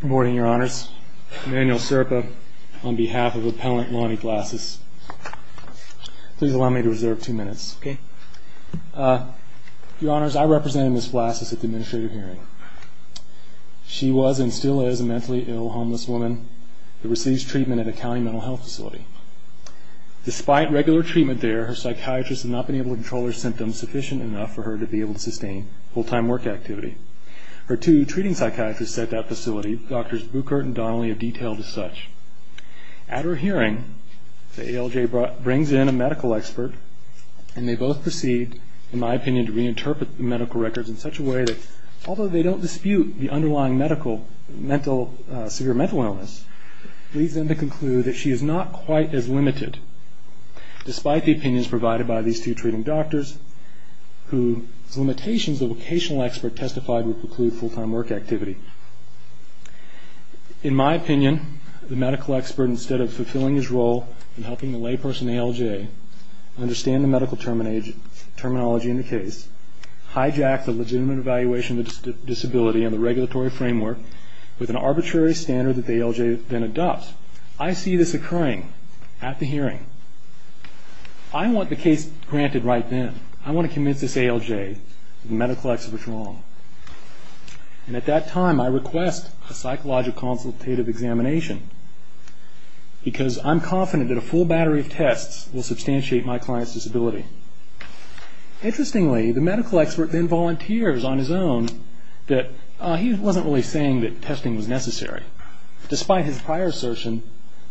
Good morning, Your Honors. Emmanuel Serpa on behalf of Appellant Loni Vlasis. Please allow me to reserve two minutes. Your Honors, I represented Ms. Vlasis at the Administrative Hearing. She was and still is a mentally ill homeless woman who receives treatment at a county mental health facility. Despite regular treatment there, her psychiatrist has not been able to control her symptoms sufficient enough for her to be able to sustain full-time work activity. Her two treating psychiatrists at that facility, Drs. Buchert and Donnelly, have detailed as such. At her hearing, the ALJ brings in a medical expert and they both proceed, in my opinion, to reinterpret the medical records in such a way that, although they don't dispute the underlying severe mental illness, leads them to conclude that she is not quite as limited. Despite the opinions provided by these two treating doctors, whose limitations the vocational expert testified would preclude full-time work activity, in my opinion, the medical expert, instead of fulfilling his role in helping the layperson, the ALJ, understand the medical terminology in the case, hijacks the legitimate evaluation of disability and the regulatory framework with an arbitrary standard that the ALJ then adopts. I see this occurring at the hearing. I want the case granted right then. I want to convince this ALJ that the medical expert's wrong. And at that time, I request a psychological consultative examination because I'm confident that a full battery of tests will substantiate my client's disability. Interestingly, the medical expert then volunteers on his own that he wasn't really saying that testing was necessary, despite his prior assertion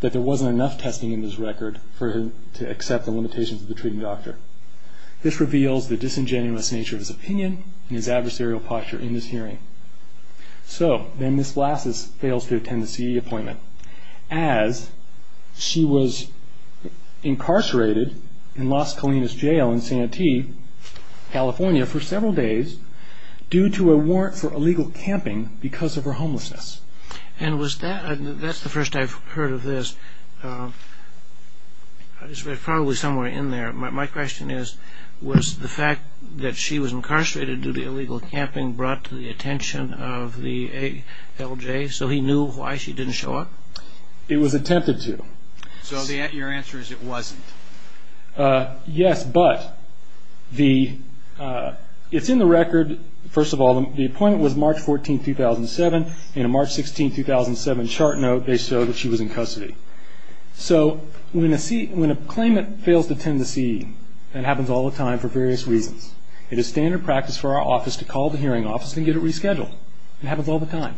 that there wasn't enough testing in his record to accept the limitations of the treating doctor. This reveals the disingenuous nature of his opinion and his adversarial posture in this hearing. So then Ms. Blass fails to attend the CE appointment as she was incarcerated in Las Colinas Jail in Santee, California, for several days due to a warrant for illegal camping because of her homelessness. And that's the first I've heard of this. It's probably somewhere in there. My question is, was the fact that she was incarcerated due to illegal camping brought to the attention of the ALJ so he knew why she didn't show up? It was attempted to. So your answer is it wasn't? Yes, but it's in the record. First of all, the appointment was March 14, 2007. In a March 16, 2007 chart note, they show that she was in custody. So when a claimant fails to attend the CE, that happens all the time for various reasons. It is standard practice for our office to call the hearing office and get it rescheduled. It happens all the time.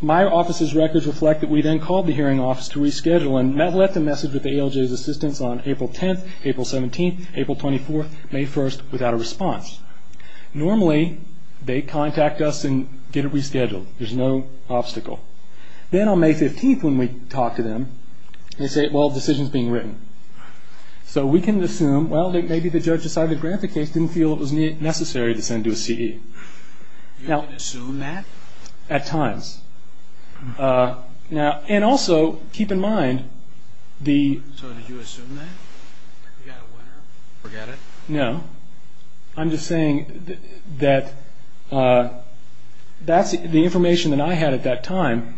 My office's records reflect that we then called the hearing office to reschedule, and that left a message with the ALJ's assistance on April 10th, April 17th, April 24th, May 1st, without a response. Normally, they contact us and get it rescheduled. There's no obstacle. Then on May 15th, when we talk to them, they say, well, the decision's being written. So we can assume, well, maybe the judge decided to grant the case, didn't feel it was necessary to send to a CE. You can assume that? At times. And also, keep in mind the... So did you assume that? You got a winner? Forget it. No. I'm just saying that the information that I had at that time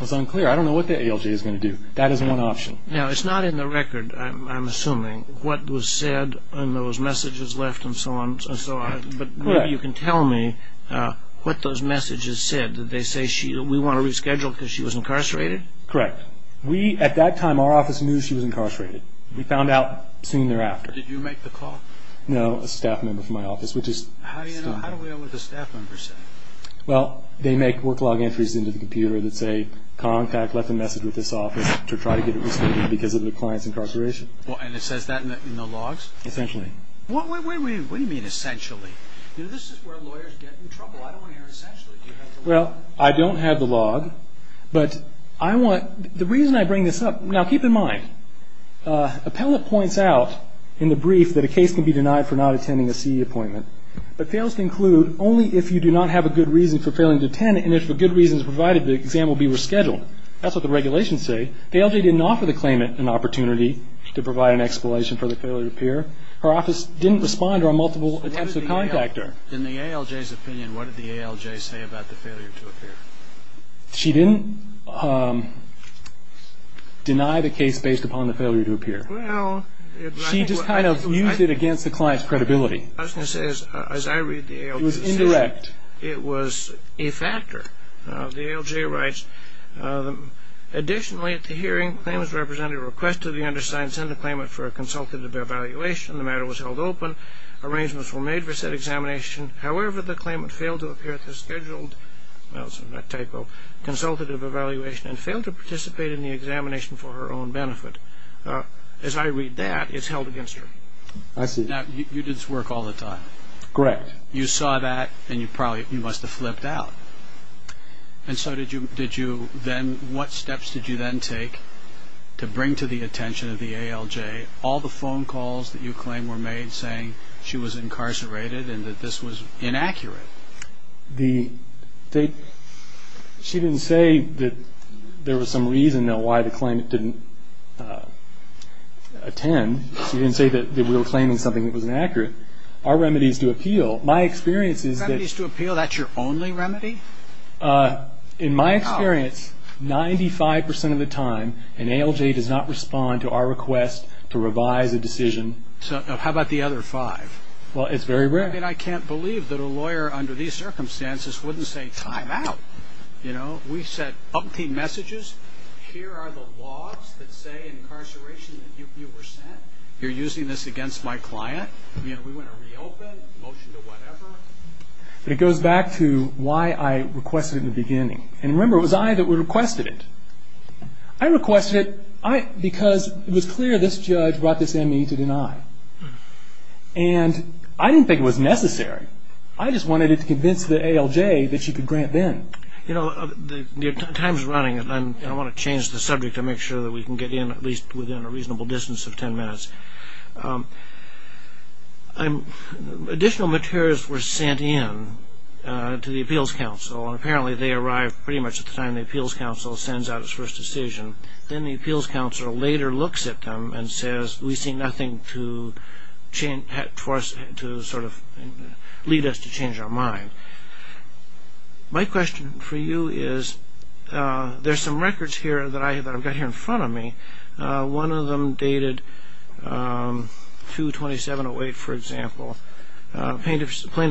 was unclear. I don't know what the ALJ is going to do. That is one option. Now, it's not in the record, I'm assuming, what was said and those messages left and so on and so on. Correct. But maybe you can tell me what those messages said. Did they say, we want to reschedule because she was incarcerated? Correct. We, at that time, our office knew she was incarcerated. We found out soon thereafter. Did you make the call? No, a staff member from my office, which is... How do you know? How do we know what the staff member said? Well, they make work log entries into the computer that say, contact left a message with this office to try to get it rescheduled because of the client's incarceration. And it says that in the logs? Essentially. What do you mean, essentially? This is where lawyers get in trouble. I don't want to hear essentially. Do you have the log? Well, I don't have the log, but I want... The reason I bring this up, now keep in mind, appellate points out in the brief that a case can be denied for not attending a CE appointment, but fails to include only if you do not have a good reason for failing to attend and if a good reason is provided, the exam will be rescheduled. That's what the regulations say. The ALJ didn't offer the claimant an opportunity to provide an explanation for the failure to appear. Her office didn't respond to her on multiple attempts to contact her. In the ALJ's opinion, what did the ALJ say about the failure to appear? She didn't deny the case based upon the failure to appear. Well... She just kind of used it against the client's credibility. I was going to say, as I read the ALJ... It was indirect. It was a factor. The ALJ writes, Additionally, at the hearing, claimants represented requested the undersigned send a claimant for a consultative evaluation. The matter was held open. Arrangements were made for said examination. However, the claimant failed to appear at the scheduled... consultative evaluation and failed to participate in the examination for her own benefit. As I read that, it's held against her. I see. Now, you did this work all the time. Correct. You saw that and you probably... you must have flipped out. And so, did you then... What steps did you then take to bring to the attention of the ALJ all the phone calls that you claimed were made saying she was incarcerated and that this was inaccurate? The... She didn't say that there was some reason, though, why the claimant didn't attend. She didn't say that we were claiming something that wasn't accurate. Our remedies to appeal... My experience is that... Remedies to appeal, that's your only remedy? In my experience, 95% of the time, an ALJ does not respond to our request to revise a decision. So, how about the other five? Well, it's very rare. I mean, I can't believe that a lawyer under these circumstances wouldn't say, Time out. We've sent umpteen messages. Here are the laws that say incarceration that you were sent. You're using this against my client. We want to reopen, motion to whatever. But it goes back to why I requested it in the beginning. And remember, it was I that requested it. I requested it because it was clear this judge brought this ME to deny. And I didn't think it was necessary. I just wanted it to convince the ALJ that she could grant then. You know, time's running, and I want to change the subject to make sure that we can get in at least within a reasonable distance of ten minutes. Additional materials were sent in to the Appeals Council, and apparently they arrived pretty much at the time the Appeals Council sends out its first decision. Then the Appeals Council later looks at them and says, We see nothing to lead us to change our mind. My question for you is, there's some records here that I've got here in front of me. One of them dated 2-2708, for example. Patient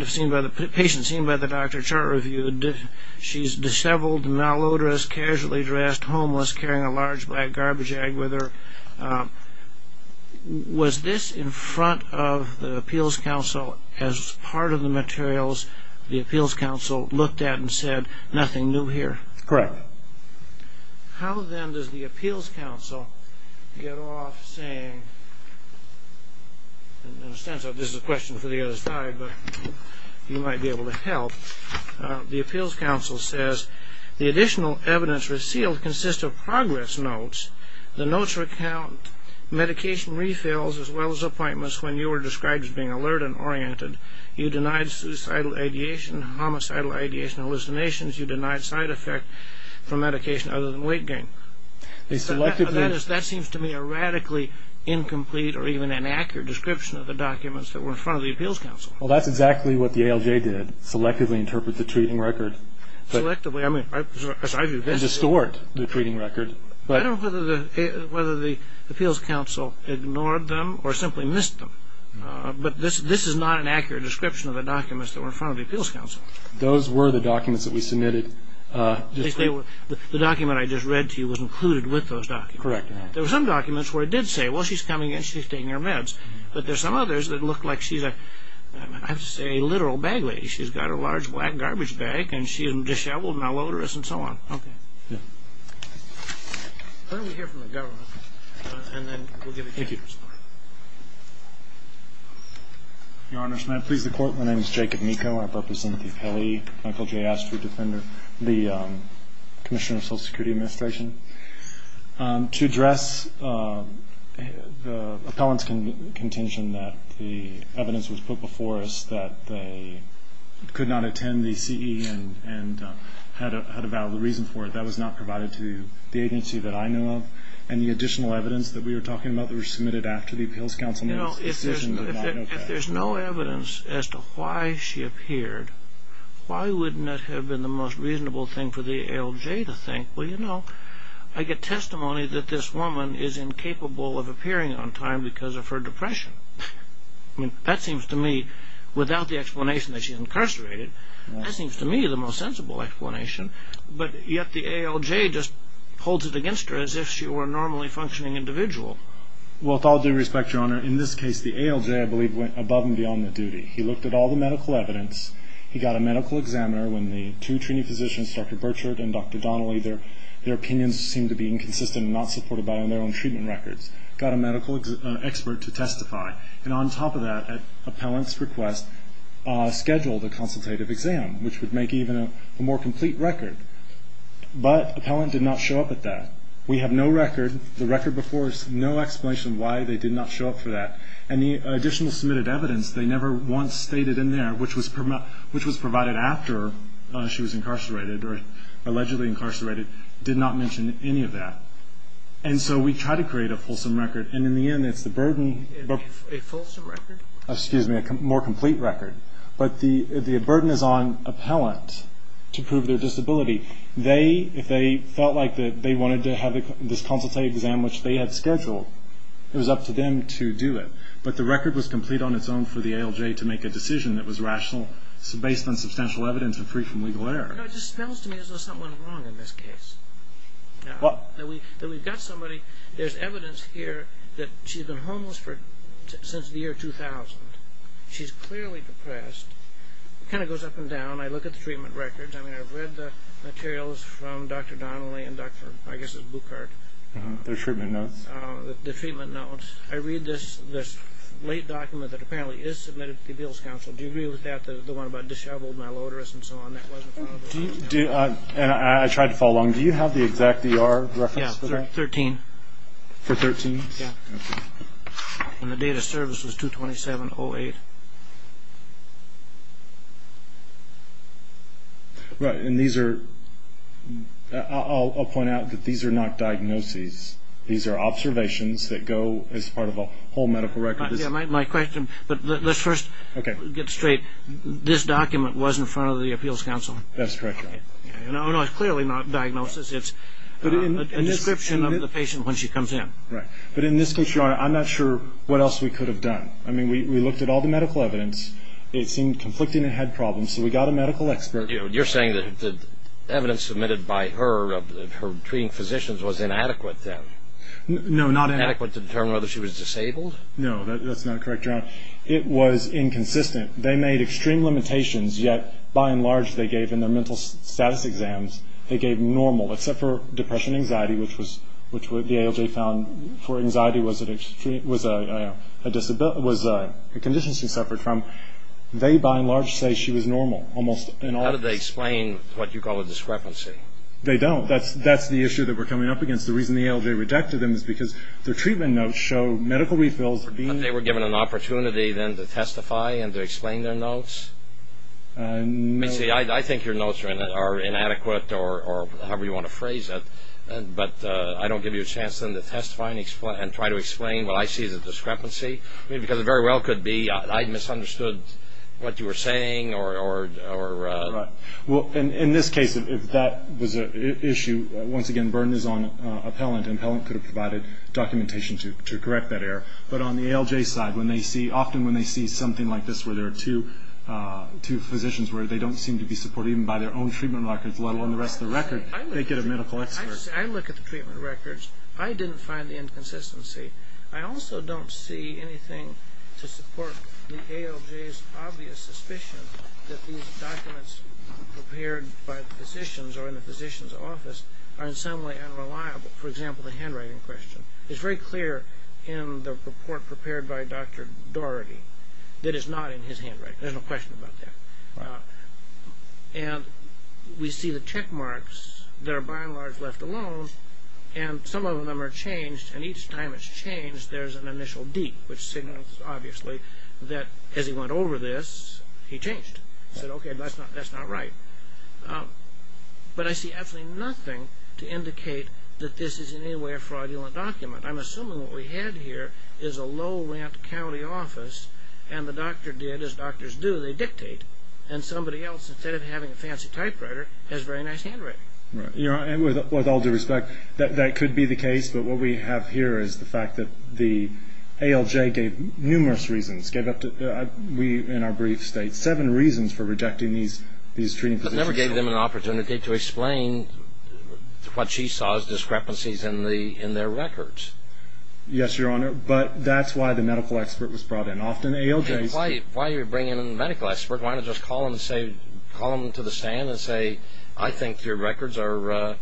seen by the doctor, chart reviewed. She's disheveled, malodorous, casually dressed, homeless, carrying a large black garbage bag with her. Was this in front of the Appeals Council as part of the materials the Appeals Council looked at and said, Nothing new here? Correct. How then does the Appeals Council get off saying, this is a question for the other side, but you might be able to help. The Appeals Council says, The additional evidence received consists of progress notes. The notes recount medication refills as well as appointments when you were described as being alert and oriented. You denied suicidal ideation, homicidal ideation, hallucinations. You denied side effect from medication other than weight gain. That seems to me a radically incomplete or even inaccurate description of the documents that were in front of the Appeals Council. Well, that's exactly what the ALJ did, selectively interpret the treating record. Selectively, I mean, as I do best. They distort the treating record. I don't know whether the Appeals Council ignored them or simply missed them. But this is not an accurate description of the documents that were in front of the Appeals Council. Those were the documents that we submitted. The document I just read to you was included with those documents. Correct. There were some documents where it did say, Well, she's coming in, she's taking her meds. But there's some others that look like she's a, I have to say, literal bag lady. She's got a large black garbage bag, and she is disheveled and malodorous and so on. Okay. Yeah. Why don't we hear from the government, and then we'll get a chance to respond. Thank you. Your Honor, may I please the Court? My name is Jacob Niko, and I represent the appellee, Michael J. Astry, Defender of the Commission of Social Security Administration. To address the appellant's contention that the evidence was put before us that they could not attend the CE and had a valid reason for it, that was not provided to the agency that I know of, and the additional evidence that we were talking about that was submitted after the Appeals Council made the decision would not know that. If there's no evidence as to why she appeared, why wouldn't it have been the most reasonable thing for the ALJ to think, Well, you know, I get testimony that this woman is incapable of appearing on time because of her depression. I mean, that seems to me, without the explanation that she's incarcerated, that seems to me the most sensible explanation. But yet the ALJ just holds it against her as if she were a normally functioning individual. Well, with all due respect, Your Honor, in this case the ALJ, I believe, went above and beyond the duty. He looked at all the medical evidence. He got a medical examiner when the two training physicians, Dr. Burchard and Dr. Donnelly, their opinions seemed to be inconsistent and not supported by their own treatment records. Got a medical expert to testify. And on top of that, at Appellant's request, scheduled a consultative exam, which would make even a more complete record. But Appellant did not show up at that. We have no record. The record before us, no explanation why they did not show up for that. And the additional submitted evidence they never once stated in there, which was provided after she was incarcerated or allegedly incarcerated, did not mention any of that. And so we try to create a fulsome record, and in the end it's the burden. A fulsome record? Excuse me, a more complete record. But the burden is on Appellant to prove their disability. They, if they felt like they wanted to have this consultative exam, which they had scheduled, it was up to them to do it. But the record was complete on its own for the ALJ to make a decision that was rational, based on substantial evidence, and free from legal error. No, it just sounds to me as though something went wrong in this case. That we've got somebody, there's evidence here that she's been homeless since the year 2000. She's clearly depressed. It kind of goes up and down. I look at the treatment records. I mean, I've read the materials from Dr. Donnelly and Dr., I guess it's Bukhart. The treatment notes. The treatment notes. I read this late document that apparently is submitted to the Appeals Council. Do you agree with that, the one about disheveled, malodorous, and so on, And I tried to follow along. Do you have the exact ER reference for that? Yeah, 13. For 13? Yeah. Okay. And the date of service was 227-08. Right, and these are, I'll point out that these are not diagnoses. These are observations that go as part of a whole medical record. Yeah, my question, but let's first get straight. This document was in front of the Appeals Council? That's correct, Your Honor. No, no, it's clearly not a diagnosis. It's a description of the patient when she comes in. Right, but in this case, Your Honor, I'm not sure what else we could have done. I mean, we looked at all the medical evidence. It seemed conflicting and had problems, so we got a medical expert. You're saying that the evidence submitted by her treating physicians was inadequate then? No, not adequate. Inadequate to determine whether she was disabled? No, that's not correct, Your Honor. It was inconsistent. They made extreme limitations, yet by and large they gave in their mental status exams, they gave normal, except for depression and anxiety, which the ALJ found for anxiety was a condition she suffered from. They, by and large, say she was normal. How did they explain what you call a discrepancy? They don't. That's the issue that we're coming up against. The reason the ALJ rejected them is because their treatment notes show medical refills being Were you ever given an opportunity then to testify and to explain their notes? I think your notes are inadequate or however you want to phrase it, but I don't give you a chance then to testify and try to explain what I see as a discrepancy, because it very well could be I misunderstood what you were saying. In this case, if that was an issue, once again, burden is on appellant, and appellant could have provided documentation to correct that error. But on the ALJ side, often when they see something like this where there are two physicians where they don't seem to be supported even by their own treatment records, let alone the rest of the record, they get a medical expert. I look at the treatment records. I didn't find the inconsistency. I also don't see anything to support the ALJ's obvious suspicion that these documents prepared by the physicians or in the physician's office are in some way unreliable. For example, the handwriting question. It's very clear in the report prepared by Dr. Dougherty that it's not in his handwriting. There's no question about that. And we see the check marks that are by and large left alone, and some of them are changed, and each time it's changed, there's an initial D, which signals, obviously, that as he went over this, he changed. He said, okay, that's not right. But I see absolutely nothing to indicate that this is in any way a fraudulent document. I'm assuming what we had here is a low-rent county office, and the doctor did as doctors do, they dictate, and somebody else, instead of having a fancy typewriter, has very nice handwriting. And with all due respect, that could be the case, but what we have here is the fact that the ALJ gave numerous reasons, in our brief state, seven reasons for rejecting these treating positions. But never gave them an opportunity to explain what she saw as discrepancies in their records. Yes, Your Honor, but that's why the medical expert was brought in. Often ALJs... Why do you bring in a medical expert? Why not just call them to the stand and say, I think your records are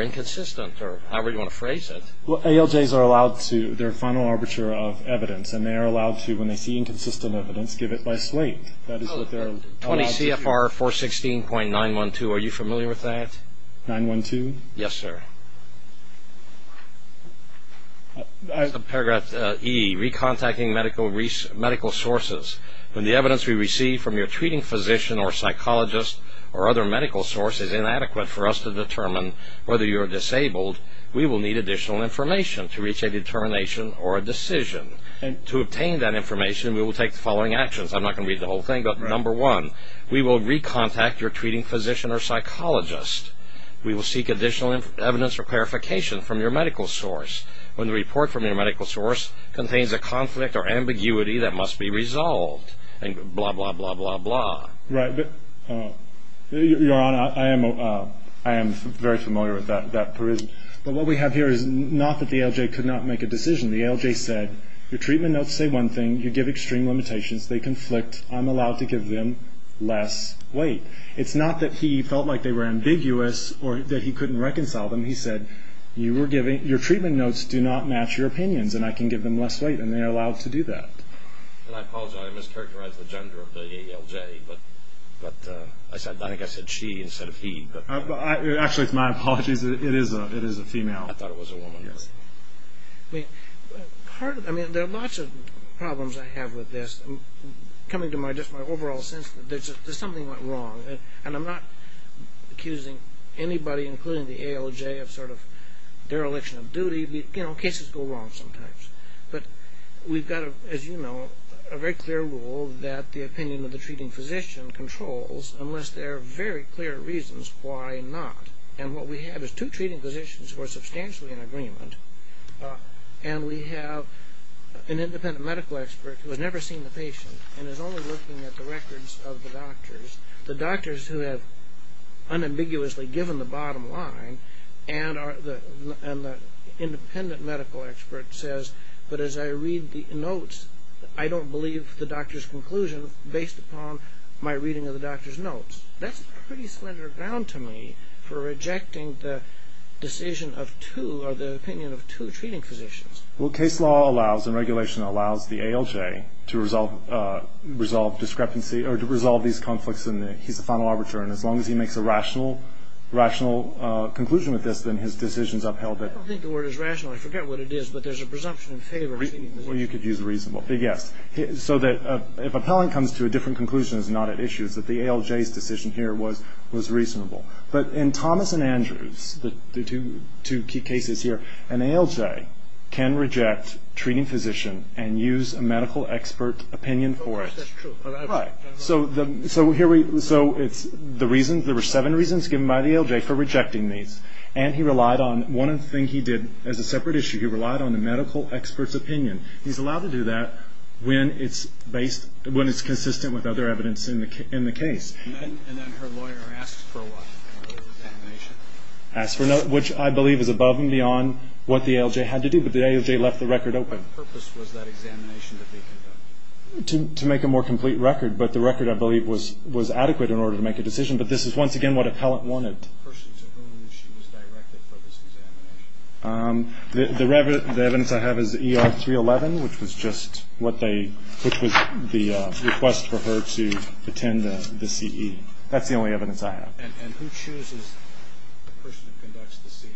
inconsistent, or however you want to phrase it. ALJs are allowed to, they're a final arbiter of evidence, and they're allowed to, when they see inconsistent evidence, give it by slate. That is what they're allowed to do. 20 CFR 416.912, are you familiar with that? 912? Yes, sir. Paragraph E, recontacting medical sources. When the evidence we receive from your treating physician or psychologist or other medical source is inadequate for us to determine whether you're disabled, we will need additional information to reach a determination or a decision. To obtain that information, we will take the following actions. I'm not going to read the whole thing, but number one, we will recontact your treating physician or psychologist. We will seek additional evidence or clarification from your medical source. When the report from your medical source contains a conflict or ambiguity that must be resolved, and blah, blah, blah, blah, blah. Right, but, Your Honor, I am very familiar with that prism. But what we have here is not that the ALJ could not make a decision. The ALJ said, Your treatment notes say one thing. You give extreme limitations. They conflict. I'm allowed to give them less weight. It's not that he felt like they were ambiguous or that he couldn't reconcile them. He said, Your treatment notes do not match your opinions, and I can give them less weight, and they are allowed to do that. I apologize. I mischaracterized the gender of the ALJ, but I think I said she instead of he. Actually, it's my apologies. It is a female. I thought it was a woman. I mean, there are lots of problems I have with this. Coming to just my overall sense, there's something went wrong. And I'm not accusing anybody, including the ALJ, of sort of dereliction of duty. You know, cases go wrong sometimes. But we've got, as you know, a very clear rule that the opinion of the treating physician controls, unless there are very clear reasons why not. And what we have is two treating physicians who are substantially in agreement, and we have an independent medical expert who has never seen the patient and is only looking at the records of the doctors, the doctors who have unambiguously given the bottom line, and the independent medical expert says, But as I read the notes, I don't believe the doctor's conclusion based upon my reading of the doctor's notes. That's pretty slender ground to me for rejecting the decision of two or the opinion of two treating physicians. Well, case law allows, and regulation allows, the ALJ to resolve discrepancy or to resolve these conflicts, and he's the final arbiter. And as long as he makes a rational conclusion with this, then his decision is upheld. I don't think the word is rational. I forget what it is, but there's a presumption in favor of treating physicians. Well, you could use reasonable. But yes. So that if an appellant comes to a different conclusion, it's not at issue. It's that the ALJ's decision here was reasonable. But in Thomas and Andrews, the two key cases here, an ALJ can reject treating physician and use a medical expert opinion for it. Of course, that's true. Right. So the reasons, there were seven reasons given by the ALJ for rejecting these, and he relied on one thing he did as a separate issue. He relied on the medical expert's opinion. He's allowed to do that when it's consistent with other evidence in the case. And then her lawyer asks for what? Another examination. Asks for another, which I believe is above and beyond what the ALJ had to do. But the ALJ left the record open. What purpose was that examination to be conducted? To make a more complete record. But the record, I believe, was adequate in order to make a decision. But this is, once again, what appellant wanted. The person to whom she was directed for this examination. The evidence I have is ER 311, which was just what they, which was the request for her to attend the CE. That's the only evidence I have. And who chooses the person who conducts the CE?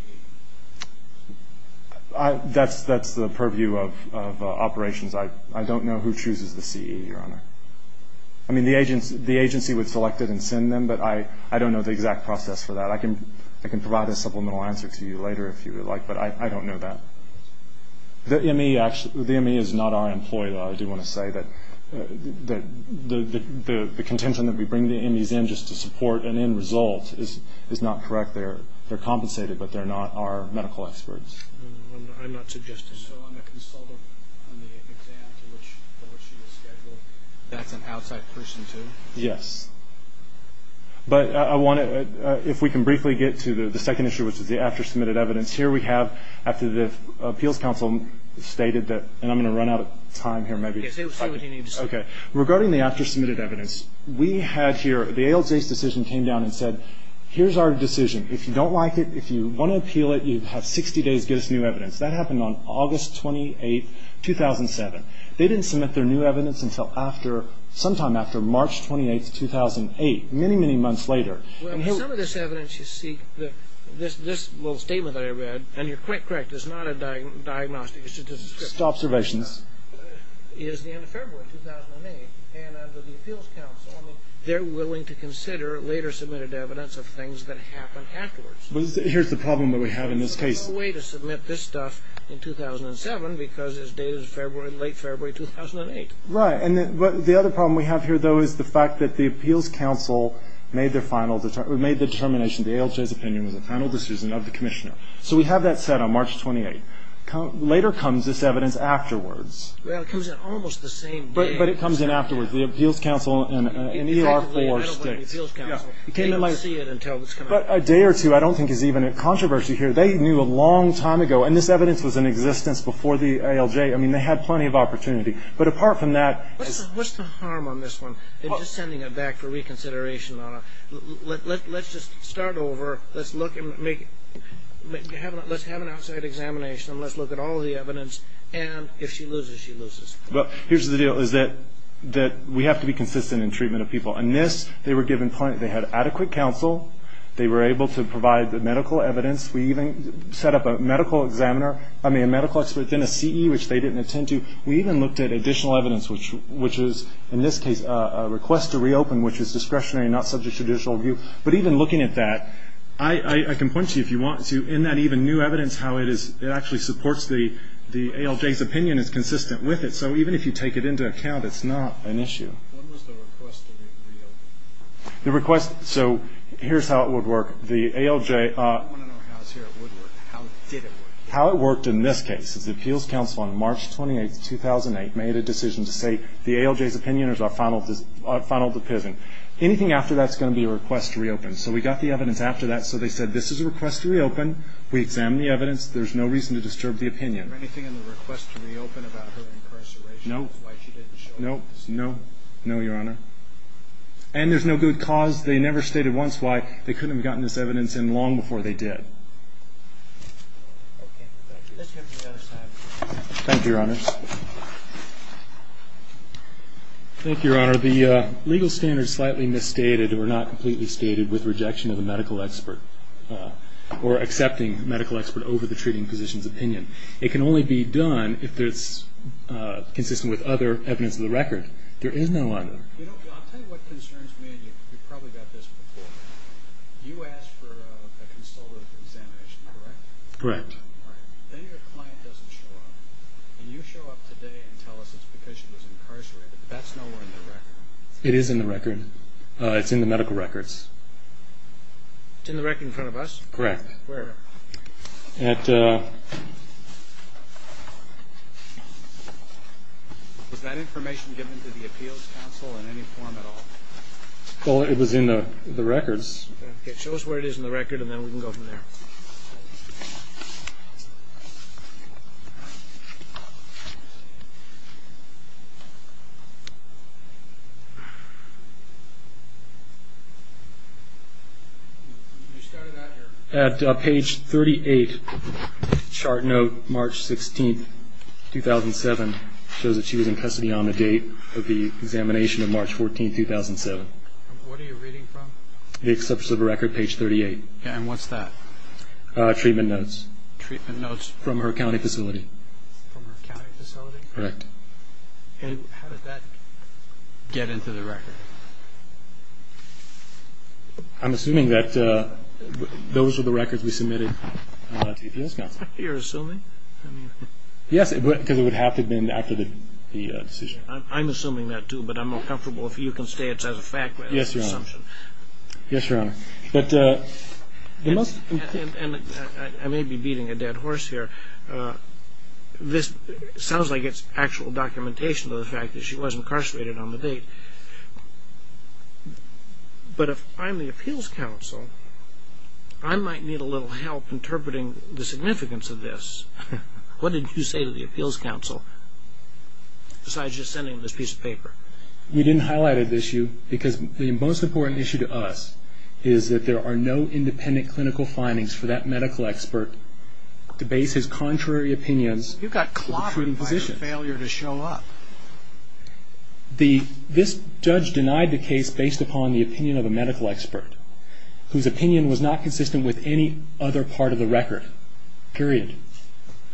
That's the purview of operations. I don't know who chooses the CE, Your Honor. I mean, the agency would select it and send them, but I don't know the exact process for that. I can provide a supplemental answer to you later if you would like, but I don't know that. The ME is not our employee, though. I do want to say that the contention that we bring the MEs in just to support an end result is not correct. They're compensated, but they're not our medical experts. I'm not suggesting so. I'm a consultant on the exam for which she was scheduled. That's an outside person too? Yes. But I want to, if we can briefly get to the second issue, which is the after-submitted evidence. Here we have, after the Appeals Council stated that, and I'm going to run out of time here, maybe. Yes, say what you need to say. Okay. Regarding the after-submitted evidence, we had here, the ALJ's decision came down and said, here's our decision, if you don't like it, if you want to appeal it, you have 60 days, get us new evidence. That happened on August 28, 2007. They didn't submit their new evidence until after, sometime after March 28, 2008, many, many months later. Well, some of this evidence you see, this little statement that I read, and you're quite correct, it's not a diagnostic, it's a description. Stop observations. It is the end of February 2008, and under the Appeals Council, they're willing to consider later submitted evidence of things that happened afterwards. Here's the problem that we have in this case. There's no way to submit this stuff in 2007 because its date is February, late February 2008. Right. And the other problem we have here, though, is the fact that the Appeals Council made their final, made the determination, the ALJ's opinion was the final decision of the Commissioner. So we have that set on March 28. Later comes this evidence afterwards. Well, it comes in almost the same day. But it comes in afterwards. The Appeals Council and ER4 states. Exactly. I don't believe the Appeals Council. They didn't see it until this came out. But a day or two, I don't think is even a controversy here. They knew a long time ago, and this evidence was in existence before the ALJ. I mean, they had plenty of opportunity. But apart from that. What's the harm on this one? They're just sending it back for reconsideration. Let's just start over. Let's have an outside examination, and let's look at all the evidence. And if she loses, she loses. Well, here's the deal is that we have to be consistent in treatment of people. In this, they were given plenty. They had adequate counsel. They were able to provide the medical evidence. We even set up a medical examiner. I mean, a medical expert. Then a CE, which they didn't attend to. We even looked at additional evidence, which is, in this case, a request to reopen, which is discretionary and not subject to judicial review. But even looking at that, I can point to you, if you want to, in that even new evidence, how it actually supports the ALJ's opinion. It's consistent with it. So even if you take it into account, it's not an issue. What was the request to reopen? So here's how it would work. The ALJ I want to know how it would work. How did it work? How it worked in this case is the appeals counsel on March 28, 2008, made a decision to say the ALJ's opinion is our final decision. Anything after that is going to be a request to reopen. So we got the evidence after that. So they said this is a request to reopen. We examined the evidence. There's no reason to disturb the opinion. Was there anything in the request to reopen about her incarceration? No. Why she didn't show up? No. No, Your Honor. And there's no good cause. They never stated once why they couldn't have gotten this evidence in long before they did. Okay. Let's go to the other side. Thank you, Your Honors. Thank you, Your Honor. The legal standard is slightly misstated or not completely stated with rejection of the medical expert or accepting medical expert over the treating physician's opinion. It can only be done if it's consistent with other evidence of the record. There is no other. I'll tell you what concerns me, and you've probably got this before. You asked for a consultative examination, correct? Correct. Then your client doesn't show up. And you show up today and tell us it's because she was incarcerated. That's nowhere in the record. It is in the record. It's in the medical records. It's in the record in front of us? Correct. Where? Was that information given to the appeals counsel in any form at all? Well, it was in the records. Okay. Show us where it is in the record, and then we can go from there. Okay. At page 38, chart note, March 16, 2007, shows that she was in custody on the date of the examination of March 14, 2007. What are you reading from? The exception of the record, page 38. And what's that? Treatment notes. Treatment notes from her county facility. From her county facility? Correct. And how did that get into the record? I'm assuming that those are the records we submitted to the appeals counsel. You're assuming? Yes, because it would have to have been after the decision. I'm assuming that too, but I'm more comfortable if you can state it as a fact rather than an assumption. Yes, Your Honor. I may be beating a dead horse here. This sounds like it's actual documentation of the fact that she was incarcerated on the date. But if I'm the appeals counsel, I might need a little help interpreting the significance of this. What did you say to the appeals counsel besides just sending this piece of paper? We didn't highlight this issue because the most important issue to us is that there are no independent clinical findings for that medical expert to base his contrary opinions. You got clobbered by the failure to show up. This judge denied the case based upon the opinion of a medical expert, whose opinion was not consistent with any other part of the record, period.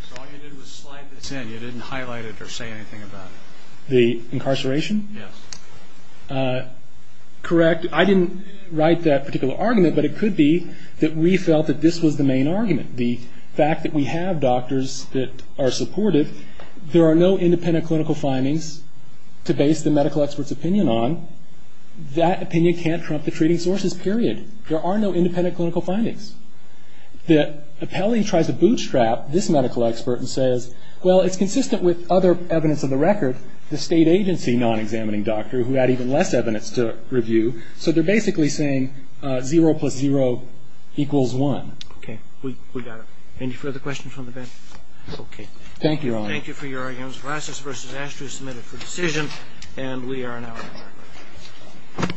So all you did was slide this in. You didn't highlight it or say anything about it. The incarceration? Yes. Correct. I didn't write that particular argument, but it could be that we felt that this was the main argument, the fact that we have doctors that are supportive. There are no independent clinical findings to base the medical expert's opinion on. That opinion can't trump the treating sources, period. There are no independent clinical findings. The appellee tries to bootstrap this medical expert and says, Well, it's consistent with other evidence of the record, the state agency non-examining doctor, who had even less evidence to review. So they're basically saying 0 plus 0 equals 1. Okay. We got it. Any further questions from the bench? Okay. Thank you. Thank you for your arguments. This case is Rassas v. Ashtray, submitted for decision. And we are now adjourned. All rise.